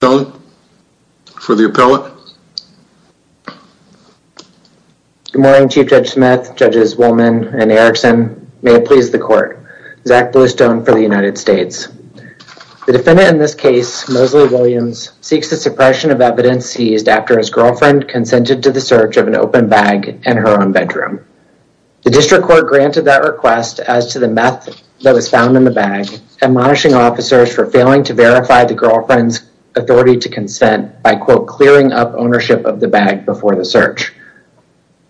The defendant in this case, Mosley Williams, seeks the suppression of evidence seized after his girlfriend consented to the search of an open bag in her own bedroom. The District Court granted that request as to the meth that was found in the bag, admonishing officers for failing to verify the girlfriend's authority to consent by, quote, clearing up ownership of the bag before the search.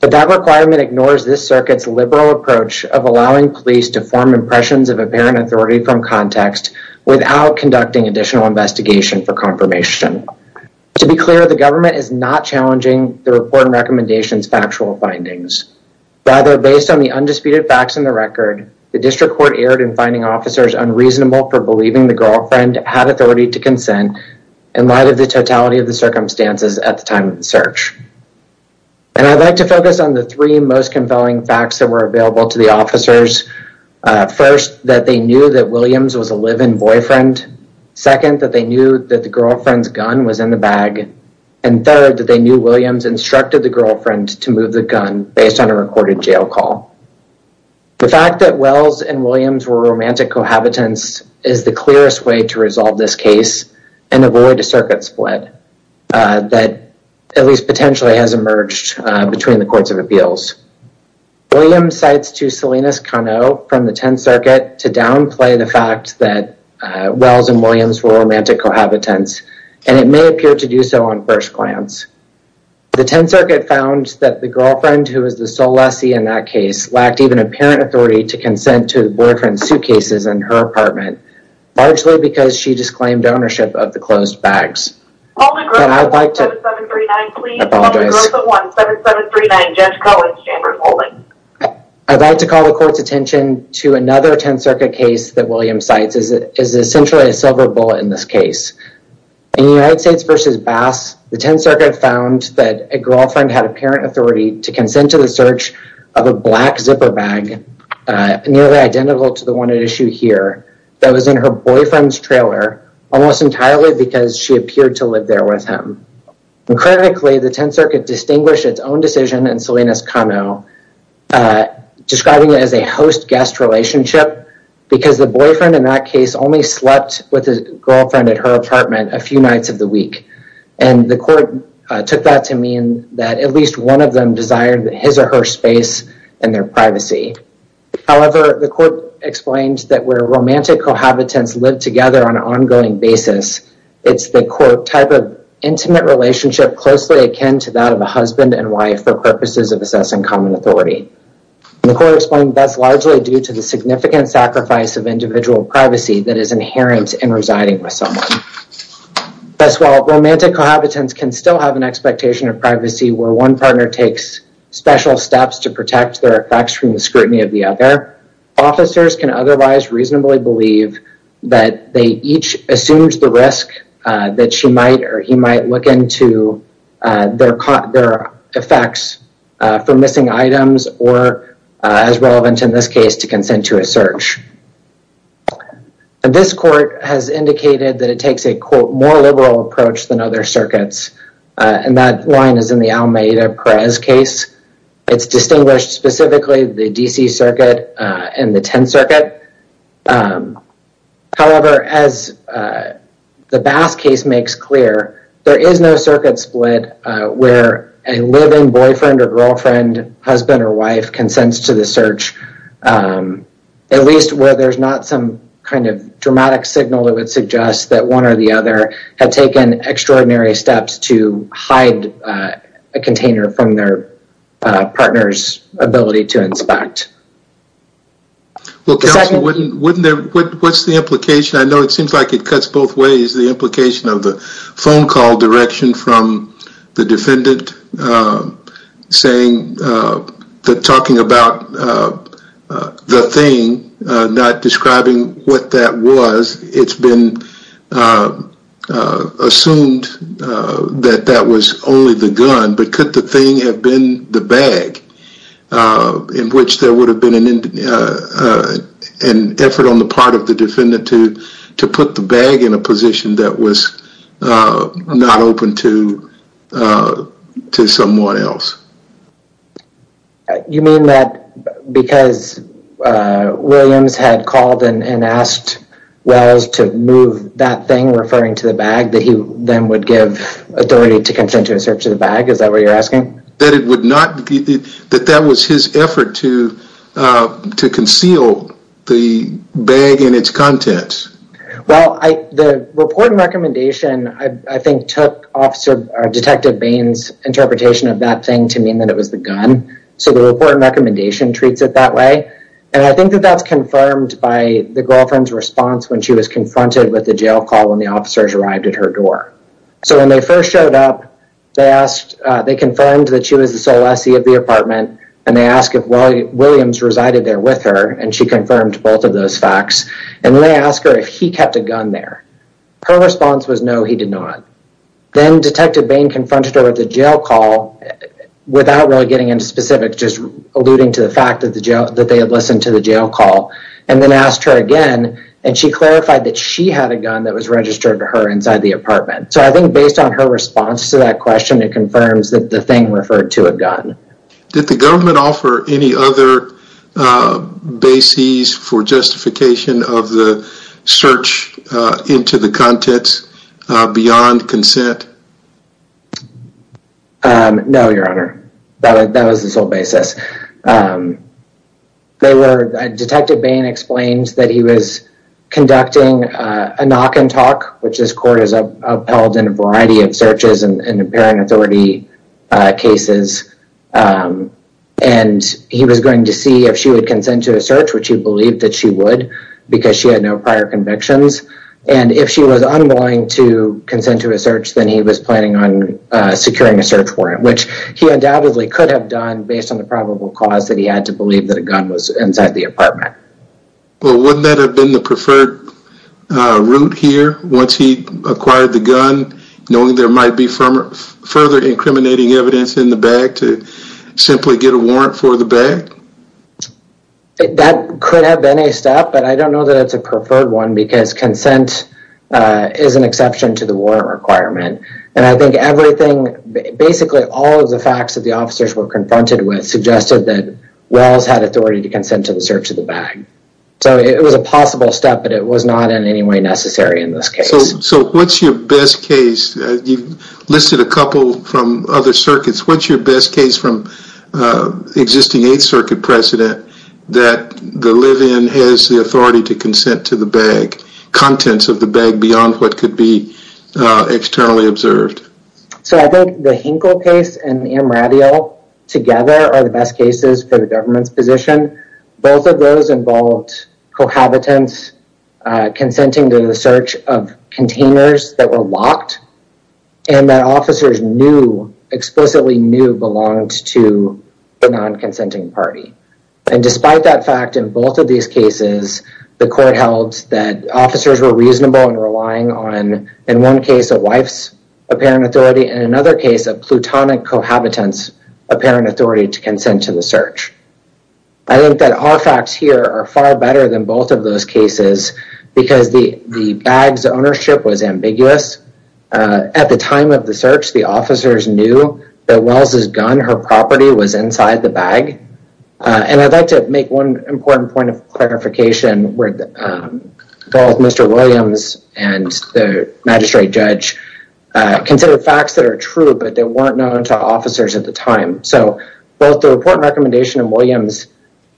But that requirement ignores this circuit's liberal approach of allowing police to form impressions of apparent authority from context without conducting additional investigation for confirmation. To be clear, the government is not challenging the report and recommendation's factual findings. Rather, based on the undisputed facts in the to consent in light of the totality of the circumstances at the time of the search. And I'd like to focus on the three most compelling facts that were available to the officers. First, that they knew that Williams was a live-in boyfriend. Second, that they knew that the girlfriend's gun was in the bag. And third, that they knew Williams instructed the girlfriend to move the gun based on a recorded jail call. The fact that Wells and Williams were romantic cohabitants, and it may appear to do so on first glance. The 10th Circuit found that the girlfriend, who was the sole lessee in that case, lacked even apparent authority to consent to the boyfriend's suitcases in her apartment. Largely because she disclaimed ownership of the closed bags. I'd like to call the court's attention to another 10th Circuit case that Williams cites is essentially a silver bullet in this case. In the United States v. Bass, the 10th Circuit found that a girlfriend had apparent authority to consent to the search of a black zipper bag nearly identical to the one at issue here that was in her boyfriend's trailer almost entirely because she appeared to live there with him. Critically, the 10th Circuit distinguished its own decision in Salinas-Cano, describing it as a host-guest relationship, because the boyfriend in that case only slept with a girlfriend at her apartment a few nights of the week. And the court took that to mean that at least one of them desired his or her space and their privacy. However, the court explained that where romantic cohabitants live together on an ongoing basis, it's the quote type of intimate relationship closely akin to that of a husband and wife for purposes of assessing common authority. The court explained that's largely due to the significant sacrifice of individual privacy that is inherent in residing with someone. Thus, while romantic cohabitants can still have an expectation of privacy where one partner takes special steps to protect their effects from the scrutiny of the other, officers can otherwise reasonably believe that they each assumed the risk that she might or he might look into their effects for missing items or, as relevant in this case, to consent to a search. This court has indicated that it takes a quote more liberal approach than other circuits. And that line is in the Almeida-Perez case. It's distinguished specifically the DC circuit and the 10th circuit. However, as the Bass case makes clear, there is no circuit split where a living boyfriend or girlfriend, husband or wife consents to the search, at least where there's not some kind of dramatic signal that would suggest that one or the other had taken extraordinary steps to hide a container from their partner's ability to inspect. Well, counsel, what's the implication? I know it seems like it cuts both ways, the implication of the phone call direction from the defendant saying, talking about the thing, not describing what that was. It's been assumed that that was only the gun, but could the thing have been the bag in which there would have been an effort on the part of the defendant to put the bag in a position that was not open to someone else. You mean that because Williams had called and asked Wells to move that thing referring to the bag, that he then would give authority to consent to a search of the bag? Is that what you're asking? That it would not, that that was his effort to conceal the bag and its contents. Well, the report and recommendation, I think, took Detective Bain's interpretation of that thing to mean that it was the gun. So the report and recommendation treats it that way. And I think that that's confirmed by the girlfriend's response when she was confronted with the jail call when the officers arrived at her door. So when they first showed up, they asked, they confirmed that she was the sole SE of the apartment. And they asked if Williams resided there with her. And she confirmed both of those facts. And then they asked her if he kept a gun there. Her response was no, he did not. Then Detective Bain confronted her with a jail call without really getting into specifics, just alluding to the fact that the jail, that they had listened to the jail call and then asked her again. And she clarified that she had a gun that was registered to her inside the apartment. So I think based on her response to that question, it confirms that the thing referred to a gun. Did the government offer any other bases for justification of the search into the contents beyond consent? No, your honor. That was the sole basis. They were, Detective Bain explained that he was conducting a knock and talk, which this court has upheld in a variety of searches and apparent authority cases. And he was going to see if she would consent to a search, which he believed that she would because she had no prior convictions. And if she was unwilling to consent to a search, then he was planning on securing a search warrant, which he undoubtedly could have done based on the probable cause that he had to believe that a gun was inside the apartment. Well, wouldn't that have been the preferred route here once he acquired the gun, knowing there might be further incriminating evidence in the bag to simply get a warrant for the bag? That could have been a step, but I don't know that it's a preferred one because consent is an exception to the warrant requirement. And I think everything, basically all of the facts that the officers were confronted with suggested that Wells had authority to consent to the search of the bag. So it was a possible step, but it was not in any way necessary in this case. So what's your best case? You've listed a couple from other circuits. What's your best case from the existing 8th Circuit precedent that the live-in has the authority to consent to the bag, contents of the bag beyond what could be externally observed? So I think the Hinkle case and the Amarillo together are the best cases for the government's position. Both of those involved cohabitants consenting to the search of containers that were locked and that officers knew, explicitly knew, belonged to the non-consenting party. And despite that fact, in both of these cases, the court held that officers were reasonable in relying on, in one case, a wife's apparent authority and in another case, a plutonic cohabitant's apparent authority to consent to the search. I think that our facts here are far better than both of those cases because the bag's ownership was ambiguous. At the time of the search, the officers knew that Wells' gun, her property, was inside the bag. And I'd like to make one important point of clarification where both Mr. Williams and the magistrate judge considered facts that are true, but they weren't known to officers at the time. So both the report and recommendation of Williams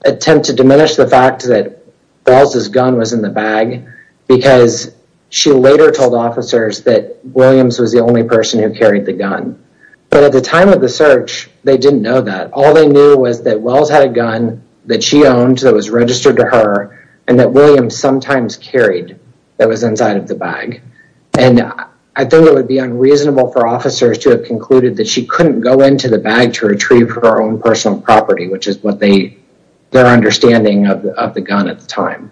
attempt to diminish the fact that Wells' gun was in the bag because she later told officers that Williams was the only person who carried the gun. But at the time of the search, they didn't know that. All they knew was that Wells had a gun that she owned that was registered to her and that Williams sometimes carried that was inside of the bag. And I think it would be unreasonable for officers to have concluded that she couldn't go into the bag to retrieve her own personal property, which is what their understanding of the gun at the time.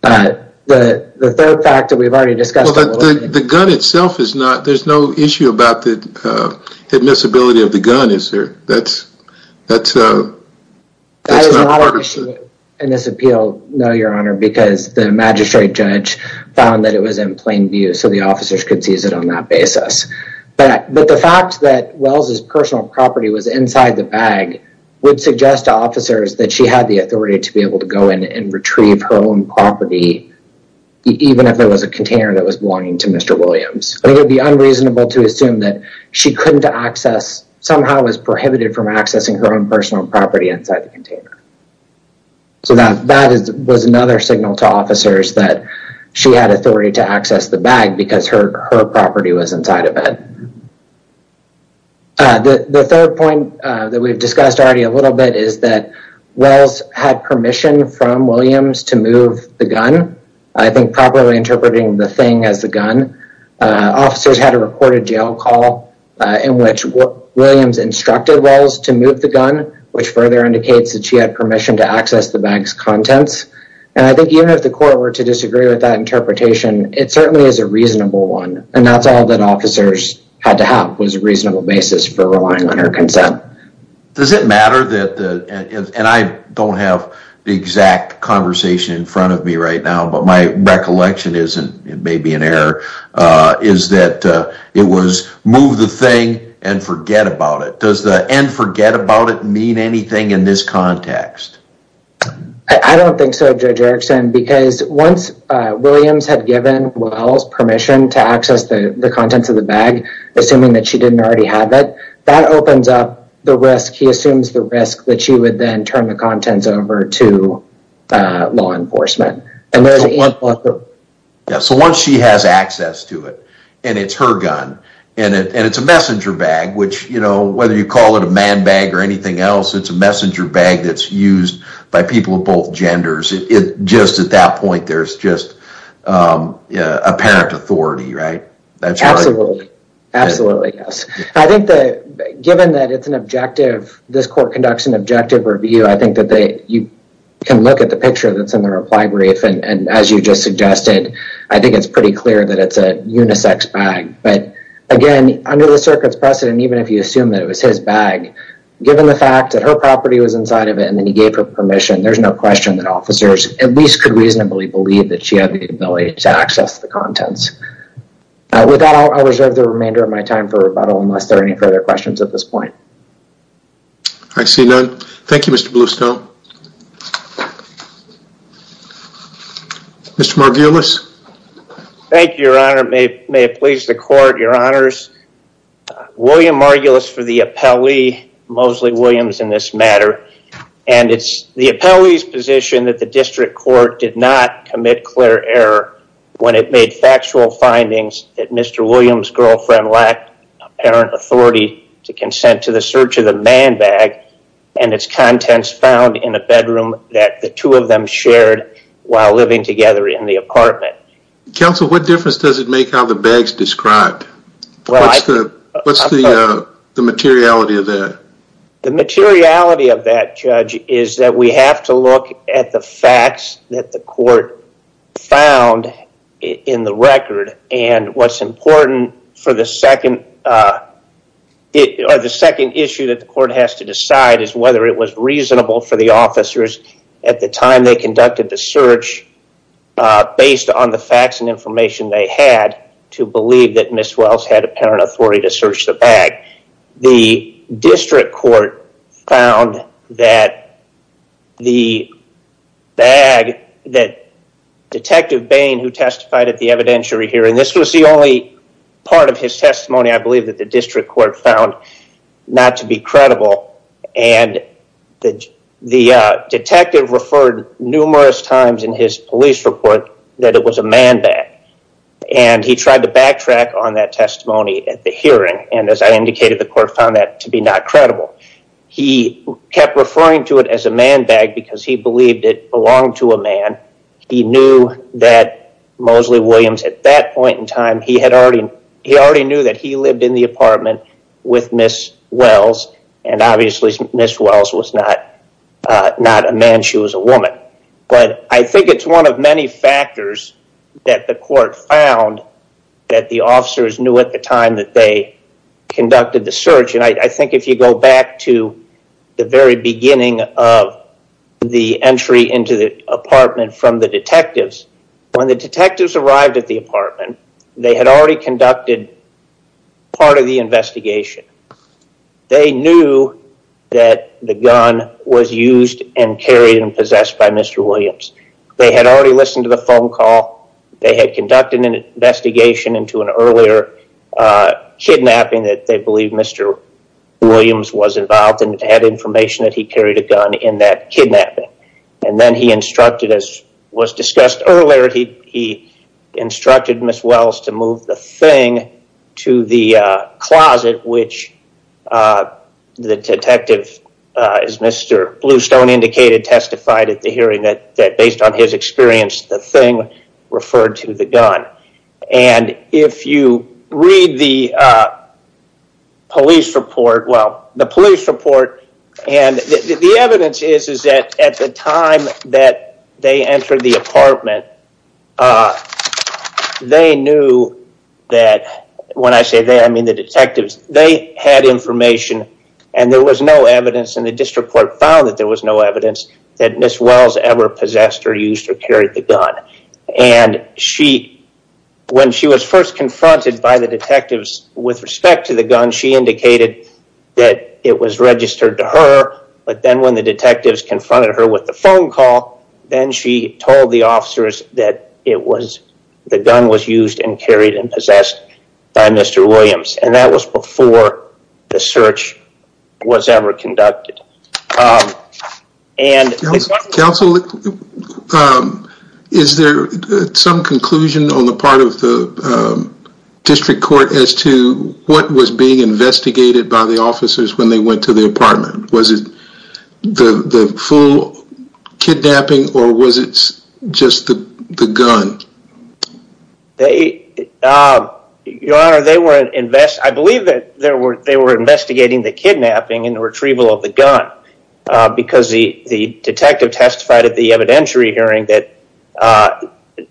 But the third fact that we've already discussed... Well, the gun itself is not, there's no issue about the admissibility of the gun, is there? That's not a part of... In this appeal, no, your honor, because the magistrate judge found that it was in plain view, so the officers could seize it on that basis. But the fact that Wells' personal property was inside the bag would suggest to officers that she had the authority to be able to go in and retrieve her own property, even if there was a container that was belonging to Mr. Williams. It would be unreasonable to assume that she couldn't access, somehow was prohibited from accessing her own personal property inside the container. So that was another signal to officers that she had authority to access the bag because her property was inside of it. The third point that we've discussed already a little bit is that Wells had permission from Williams to move the gun. I think properly interpreting the thing as the gun, officers had a recorded jail call in which Williams instructed Wells to move the gun, which further indicates that she had permission to access the bag's contents. And I think even if the court were to disagree with that interpretation, it certainly is a reasonable one. And that's all that officers had to have was a reasonable basis for relying on her consent. Does it matter that the... And I don't have the exact conversation in front of me right now, but my recollection is, and it may be an error, is that it was move the thing and forget about it. Does the and forget about it mean anything in this context? I don't think so, Judge Erickson, because once Williams had given Wells permission to access the contents of the bag, assuming that she didn't already have it, that opens up the risk. He assumes the risk that she would then turn the contents over to law enforcement. So once she has access to it, and it's her gun, and it's a messenger bag, which whether you call it a man bag or anything else, it's a messenger bag that's used by people of both genders, just at that point, there's just apparent authority, right? Absolutely. Absolutely, yes. I think that given that it's an objective, this court conducts objective review, I think that you can look at the picture that's in the reply brief, and as you just suggested, I think it's pretty clear that it's a unisex bag. But again, under the circuit's precedent, even if you assume that it was his bag, given the fact that her property was inside of it, and then he gave her permission, there's no question that officers at least could reasonably believe that she had the ability to access the contents. With that, I'll reserve the remainder of my time for rebuttal, unless there are any further questions at this point. I see none. Thank you, Mr. Bluestone. Mr. Margulis. Thank you, your honor. May it please the court, your honors. William Margulis for the appellee, Mosley Williams in this matter, and it's the appellee's position that the district court did not commit clear error when it made factual findings that Mr. Williams' girlfriend lacked apparent authority to consent to the search of the man bag, and its contents found in a bedroom that the two of them shared while living together in the apartment. Counsel, what difference does it make how the bag's described? What's the materiality of that? The materiality of that, judge, is that we have to look at the facts that the court found in the record, and what's important for the second issue that the court has to decide is whether it was reasonable for the officers at the time they conducted the search, based on the facts and information they had, to believe that Ms. Wells had apparent authority to search the bag. The district court found that the bag that Detective Bain had found who testified at the evidentiary hearing, and this was the only part of his testimony I believe that the district court found not to be credible, and the detective referred numerous times in his police report that it was a man bag, and he tried to backtrack on that testimony at the hearing, and as I indicated, the court found that to be not credible. He kept referring to it as a man bag because he believed it belonged to a man. He knew that Mosley Williams at that point in time, he already knew that he lived in the apartment with Ms. Wells, and obviously Ms. Wells was not a man, she was a woman. I think it's one of many factors that the court found that the officers knew at the time that they conducted the search, and I think if you go back to the very beginning of the entry into the apartment from the detectives, when the detectives arrived at the apartment, they had already conducted part of the investigation. They knew that the gun was used and carried and possessed by Mr. Williams. They had already listened to the phone call, they had conducted an investigation into an earlier kidnapping that they believed Mr. Williams was involved in. They had information that he carried a gun in that kidnapping, and then he instructed, as was discussed earlier, he instructed Ms. Wells to move the thing to the closet, which the detective, as Mr. Bluestone indicated, testified at the hearing that based on his experience, the thing referred to the gun, and if you read the police report, well, the police report, and the evidence is that at the time that they entered the apartment, they knew that, when I say they, I mean the detectives, they had information and there was no evidence, and the district court found that there was no evidence that Ms. Wells ever possessed or used or carried the gun, and when she was first confronted by the detectives with respect to the gun, she indicated that it was registered to her, but then when the detectives confronted her with the phone call, then she told the officers that the gun was used and carried and possessed by Mr. Williams, and that was before the search was ever conducted. Counsel, is there some conclusion on the part of the district court as to what was being investigated by the officers when they went to the apartment? Was it the full kidnapping or was it just the gun? Your Honor, I believe that they were investigating the kidnapping and the retrieval of the gun because the detective testified at the evidentiary hearing that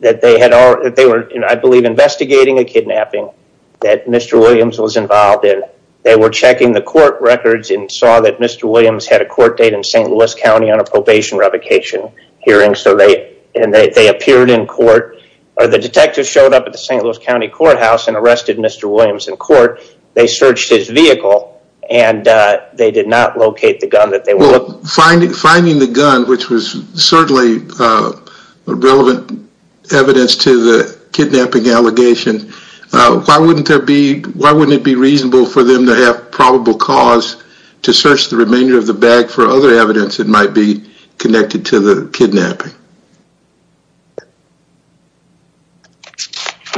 they were, I believe, investigating a kidnapping that Mr. Williams was involved in. They were checking the court records and saw that Mr. Williams had a court date in St. Louis County on a probation revocation hearing, and they appeared in court, or the detectives showed up at the St. Louis County courthouse and arrested Mr. Williams in court. They searched his vehicle, and they did not locate the gun that they were looking for. Well, finding the gun, which was certainly relevant evidence to the kidnapping allegation, why wouldn't it be reasonable for them to have probable cause to search the remainder of the bag for other evidence that might be connected to the kidnapping?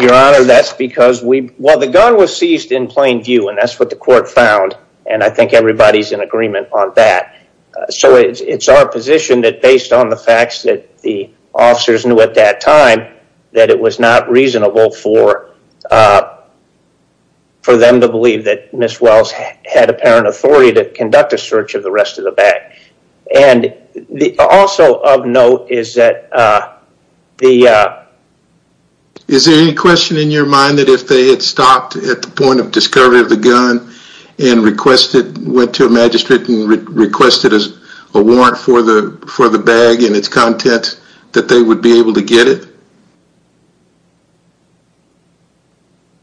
Your Honor, that's because the gun was seized in plain view, and that's what the court found, and I think everybody's in agreement on that. It's our position that based on the facts that the officers knew at that time, that it was not reasonable for them to believe that Ms. Wells had apparent authority to conduct a search of the rest of the bag. Also of note is that the... Is there any question in your mind that if they had stopped at the point of discovery of the gun and requested, went to a magistrate and requested a warrant for the bag and its contents, that they would be able to get it?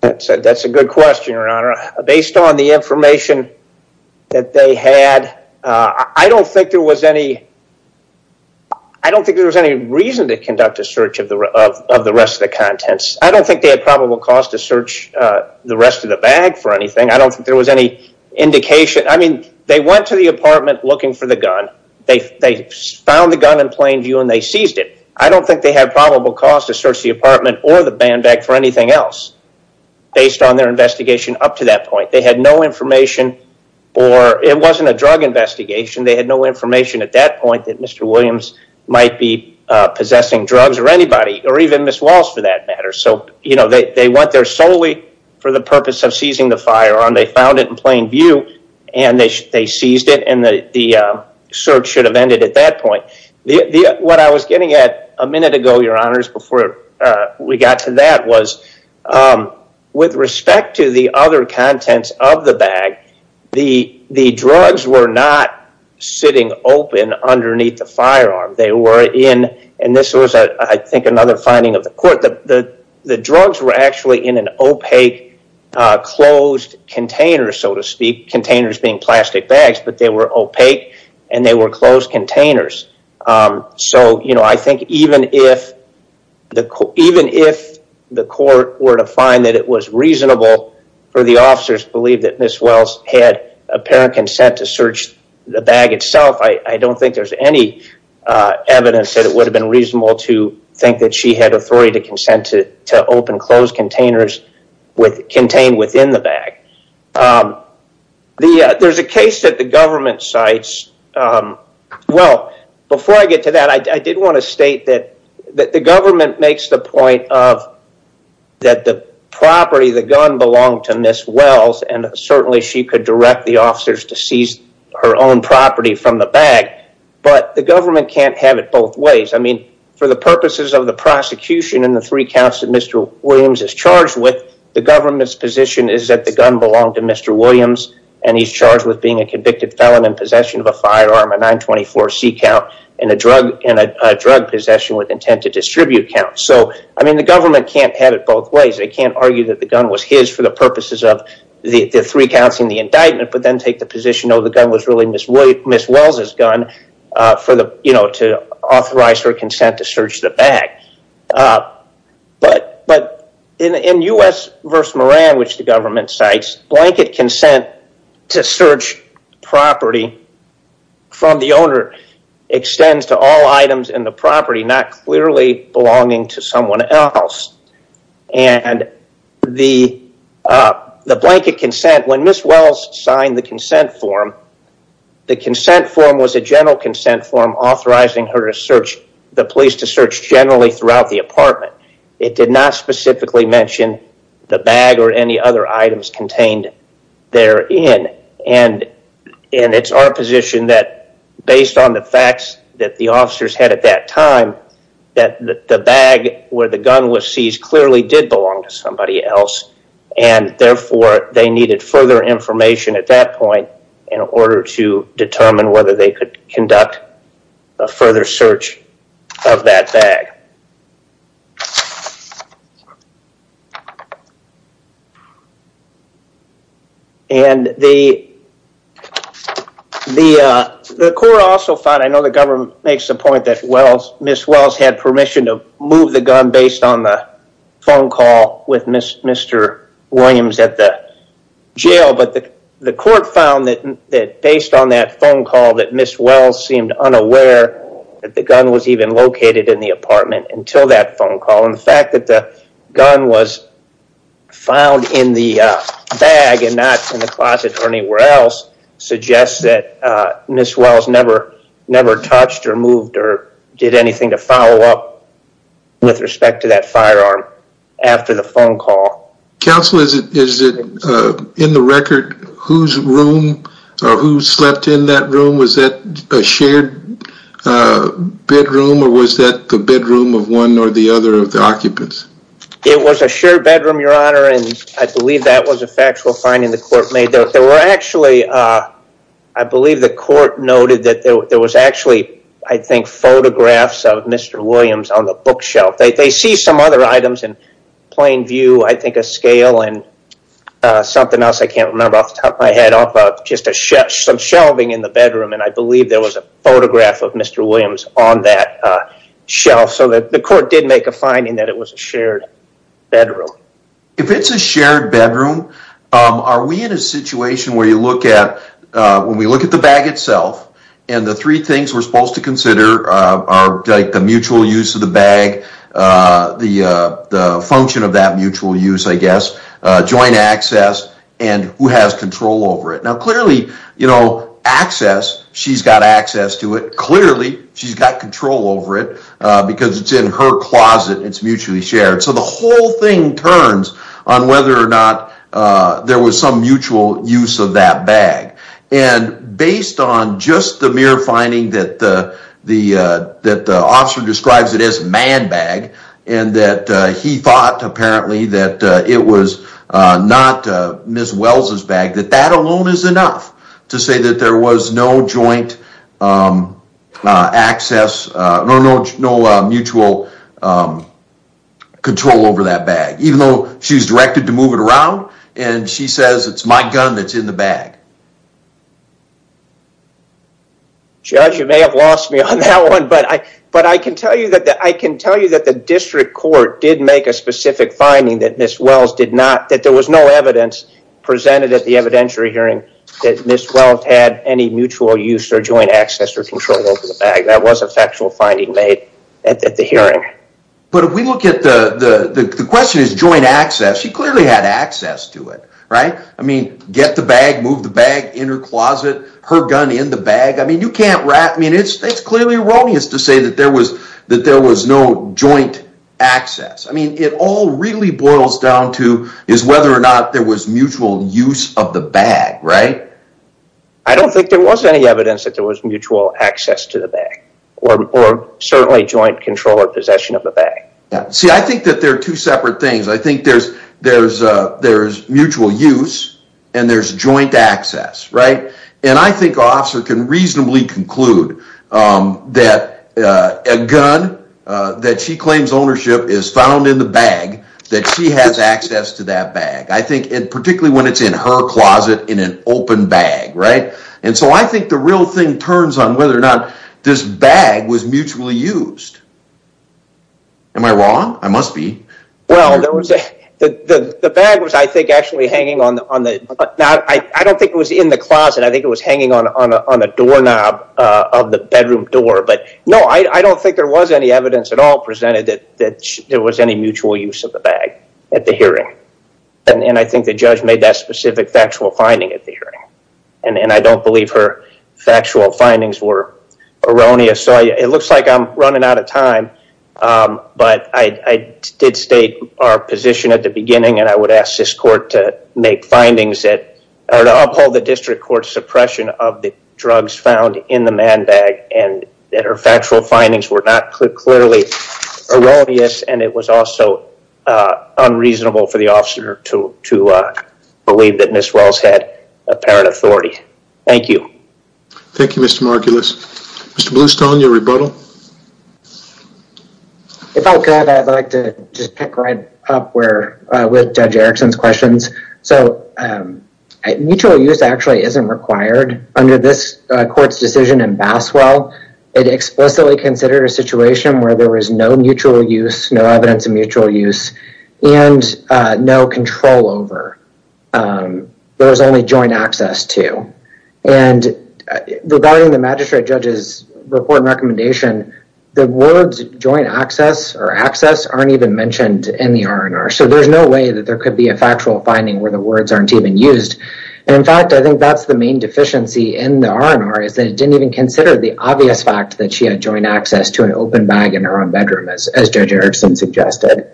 That's a good question, Your Honor. Based on the information that they had, I don't think there was any reason to conduct a search of the rest of the contents. I don't think they had probable cause to search the rest of the bag for anything. I don't think there was any indication. I mean, they went to the apartment looking for the gun. They found the gun in plain view and they seized it. I don't think they had probable cause to search the apartment or the band bag for anything else based on their investigation up to that point. There was no information at that point that Mr. Williams might be possessing drugs or anybody or even Ms. Wells for that matter. They went there solely for the purpose of seizing the firearm. They found it in plain view and they seized it and the search should have ended at that point. What I was getting at a minute ago, Your Honors, before we got to that was with respect to the other contents of the bag, the drugs were not sitting open underneath the firearm. They were in, and this was, I think, another finding of the court. The drugs were actually in an opaque closed container, so to speak, containers being plastic bags, but they were opaque and they were closed containers. I think even if the court were to find that it was reasonable for the officers to believe that Ms. Wells had apparent consent to search the bag itself, I don't think there's any evidence that it would have been reasonable to think that she had authority to consent to open closed containers contained within the bag. There's a case that the government cites, well, before I get to that, I did want to state that the government makes the point that the property, the gun, belonged to Ms. Wells. Certainly, she could direct the officers to seize her own property from the bag, but the government can't have it both ways. For the purposes of the prosecution and the three counts that Mr. Williams is charged with, the government's position is that the gun belonged to Mr. Williams and he's charged with being a convicted felon in possession of a firearm, a 924C count, and a drug possession with intent to distribute counts. The government can't have it both ways. They can't argue that the gun was his for the purposes of the three counts and the indictment, but then take the position, oh, the gun was really Ms. Wells' gun to authorize her consent to search the bag. In U.S. v. Moran, which the government cites, blanket consent to search property from the owner extends to all items in the property not clearly belonging to someone else. The blanket consent, when Ms. Wells signed the consent form, the consent form was a general consent form authorizing the police to search generally throughout the apartment. It did not specifically mention the bag or any other items contained therein. It's our position that based on the facts that the officers had at that time, that the bag where the gun was seized clearly did belong to somebody else, and therefore, they needed further information at that point in order to determine whether they could conduct a further search of that bag. The court also found, I know the government makes the point that Ms. Wells had permission to move the gun based on the phone call with Mr. Williams at the jail, but the court found that based on that phone call that Ms. Wells seemed unaware that the gun was even located in the apartment until that phone call. And the fact that the gun was found in the bag and not in the closet or anywhere else suggests that Ms. Wells never touched or moved or did anything to follow up with respect to that firearm after the phone call. Counsel, is it in the record whose room or who slept in that room? Was that a shared bedroom or was that the bedroom of one or the other of the occupants? It was a shared bedroom, Your Honor, and I believe the court noted that there was actually, I think, photographs of Mr. Williams on the bookshelf. They see some other items in plain view, I think a scale and something else I can't remember off the top of my head, just some shelving in the bedroom, and I believe there was a photograph of Mr. Williams on that shelf. So the court did make a finding that it was a shared bedroom. If it's a shared bedroom, are we in a situation where you look at, when we look at the bag itself, and the three things we're supposed to consider are the mutual use of the bag, the function of that mutual use, I guess, joint access, and who has control over it. Now clearly, you know, access, she's got access to it. Clearly, she's got control over it because it's in her closet, it's mutually shared. So the whole thing turns on whether or not there was some mutual use of that bag. And based on just the mere finding that the officer describes it as a man bag, and that he thought, apparently, that it was not Ms. Wells' bag, that that alone is enough to say that there was no joint access, no mutual use of that bag. Control over that bag. Even though she was directed to move it around, and she says it's my gun that's in the bag. Judge, you may have lost me on that one, but I can tell you that the district court did make a specific finding that Ms. Wells did not, that there was no evidence presented at the evidentiary hearing that Ms. Wells had any mutual use or joint access or control over the bag. That was a factual finding made at the hearing. But if we look at the, the question is joint access. She clearly had access to it, right? I mean, get the bag, move the bag in her closet, her gun in the bag. I mean, you can't wrap, I mean, it's clearly erroneous to say that there was, that there was no joint access. I mean, it all really boils down to is whether or not there was mutual use of the bag, right? I don't think there was any evidence that there was mutual access to the bag or certainly joint control or possession of the bag. See, I think that there are two separate things. I think there's, there's, there's mutual use and there's joint access, right? And I think our officer can reasonably conclude that a gun that she claims ownership is found in the bag, that she has access to that bag. I think, and particularly when it's in her closet in an open bag, right? And so I think the real thing turns on whether or not this bag was mutually used. Am I wrong? I must be. Well, there was a, the bag was, I think, actually hanging on the, on the, I don't think it was in the closet. I think it was hanging on, on a, on a doorknob of the bedroom door, but no, I don't think there was any evidence at all presented that there was any mutual use of the bag at the hearing. And I think the judge made that specific factual finding at the hearing. And, and I don't believe her factual findings were erroneous. So it looks like I'm running out of time. But I did state our position at the beginning and I would ask this court to make findings that are to uphold the district court suppression of the drugs found in the man bag and that her factual findings were not clearly erroneous and it was also unreasonable for the officer to, to believe that Ms. Wells had apparent authority. Thank you. Thank you, Mr. Margulis. Mr. Bluestone, your rebuttal. If I could, I'd like to just pick right up where, with Judge Erickson's questions. So mutual use actually isn't required under this court's decision in Basswell. It explicitly considered a situation where there was no mutual use, no evidence of mutual use and no control over. There was only joint access to. And regarding the magistrate judge's report and recommendation, the words joint access or access aren't even mentioned in the R&R. So there's no way that there could be a factual finding where the words aren't even used. And in fact, I think that's the main deficiency in the R&R is that it didn't even consider the obvious fact that she had joint access to an open bag in her own bedroom, as Judge Erickson suggested.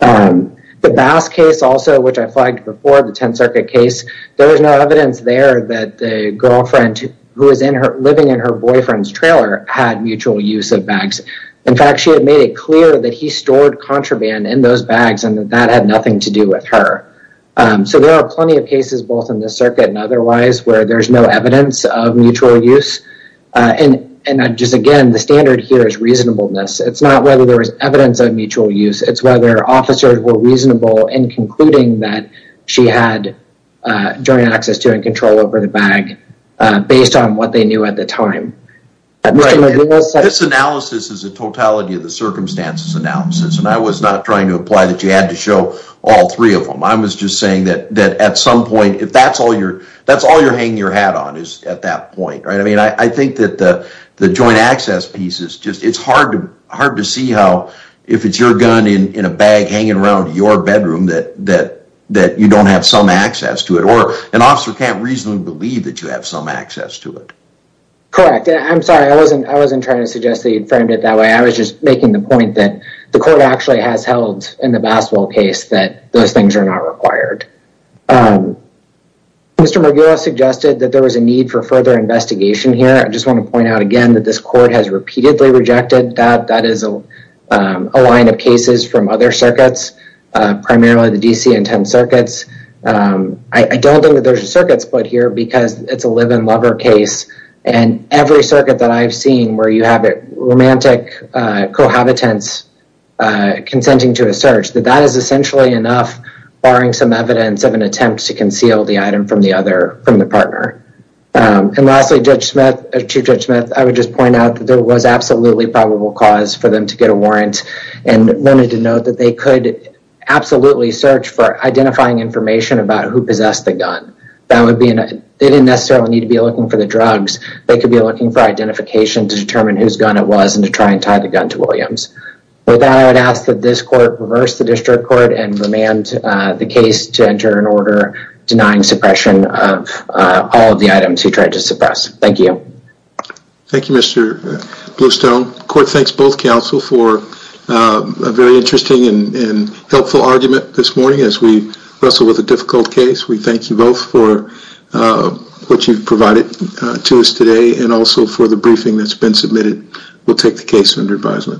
The Bass case also, which I flagged before, the 10th Circuit case, there was no evidence there that the girlfriend who was in her, living in her boyfriend's trailer had mutual use of bags. In fact, she had made it clear that he stored contraband in those bags and that that had nothing to do with her. So there are plenty of cases, both in this circuit and otherwise, where there's no evidence of mutual use. And just again, the standard here is reasonableness. It's not whether there was evidence of mutual use. It's whether officers were reasonable in concluding that she had joint access to and control over the bag based on what they knew at the time. This analysis is a totality of the circumstances analysis, and I was not trying to imply that you had to show all three of them. I was just saying that at some point, if that's all you're hanging your hat on is at that point. I mean, I think that the joint access piece is just, it's hard to see how, if it's your gun in a bag hanging around your bedroom, that you don't have some access to it, or an officer can't reasonably believe that you have some access to it. Correct. I'm sorry. I wasn't trying to suggest that you'd framed it that way. I was just making the point that the court actually has held in the Bassville case that those things are not required. Mr. Moguero suggested that there was a need for further investigation here. I just want to point out again that this court has repeatedly rejected that. That is a line of cases from other circuits, primarily the DC and 10 circuits. I don't think that there's a circuit split here because it's a live-in lover case, and every circuit that I've seen where you have romantic cohabitants consenting to a search, that that is essentially enough barring some evidence of an attempt to conceal the item from the partner. Lastly, Chief Judge Smith, I would just point out that there was absolutely probable cause for them to get a warrant, and wanted to note that they could absolutely search for identifying information about who possessed the gun. They didn't necessarily need to be looking for what gun it was and to try and tie the gun to Williams. With that, I would ask that this court reverse the district court and remand the case to enter an order denying suppression of all of the items he tried to suppress. Thank you. Thank you, Mr. Bluestone. The court thanks both counsel for a very interesting and helpful argument this morning as we wrestle with a difficult case. We thank you both for what you've provided to us today and also for the briefing that's been submitted. We'll take the case under advisement.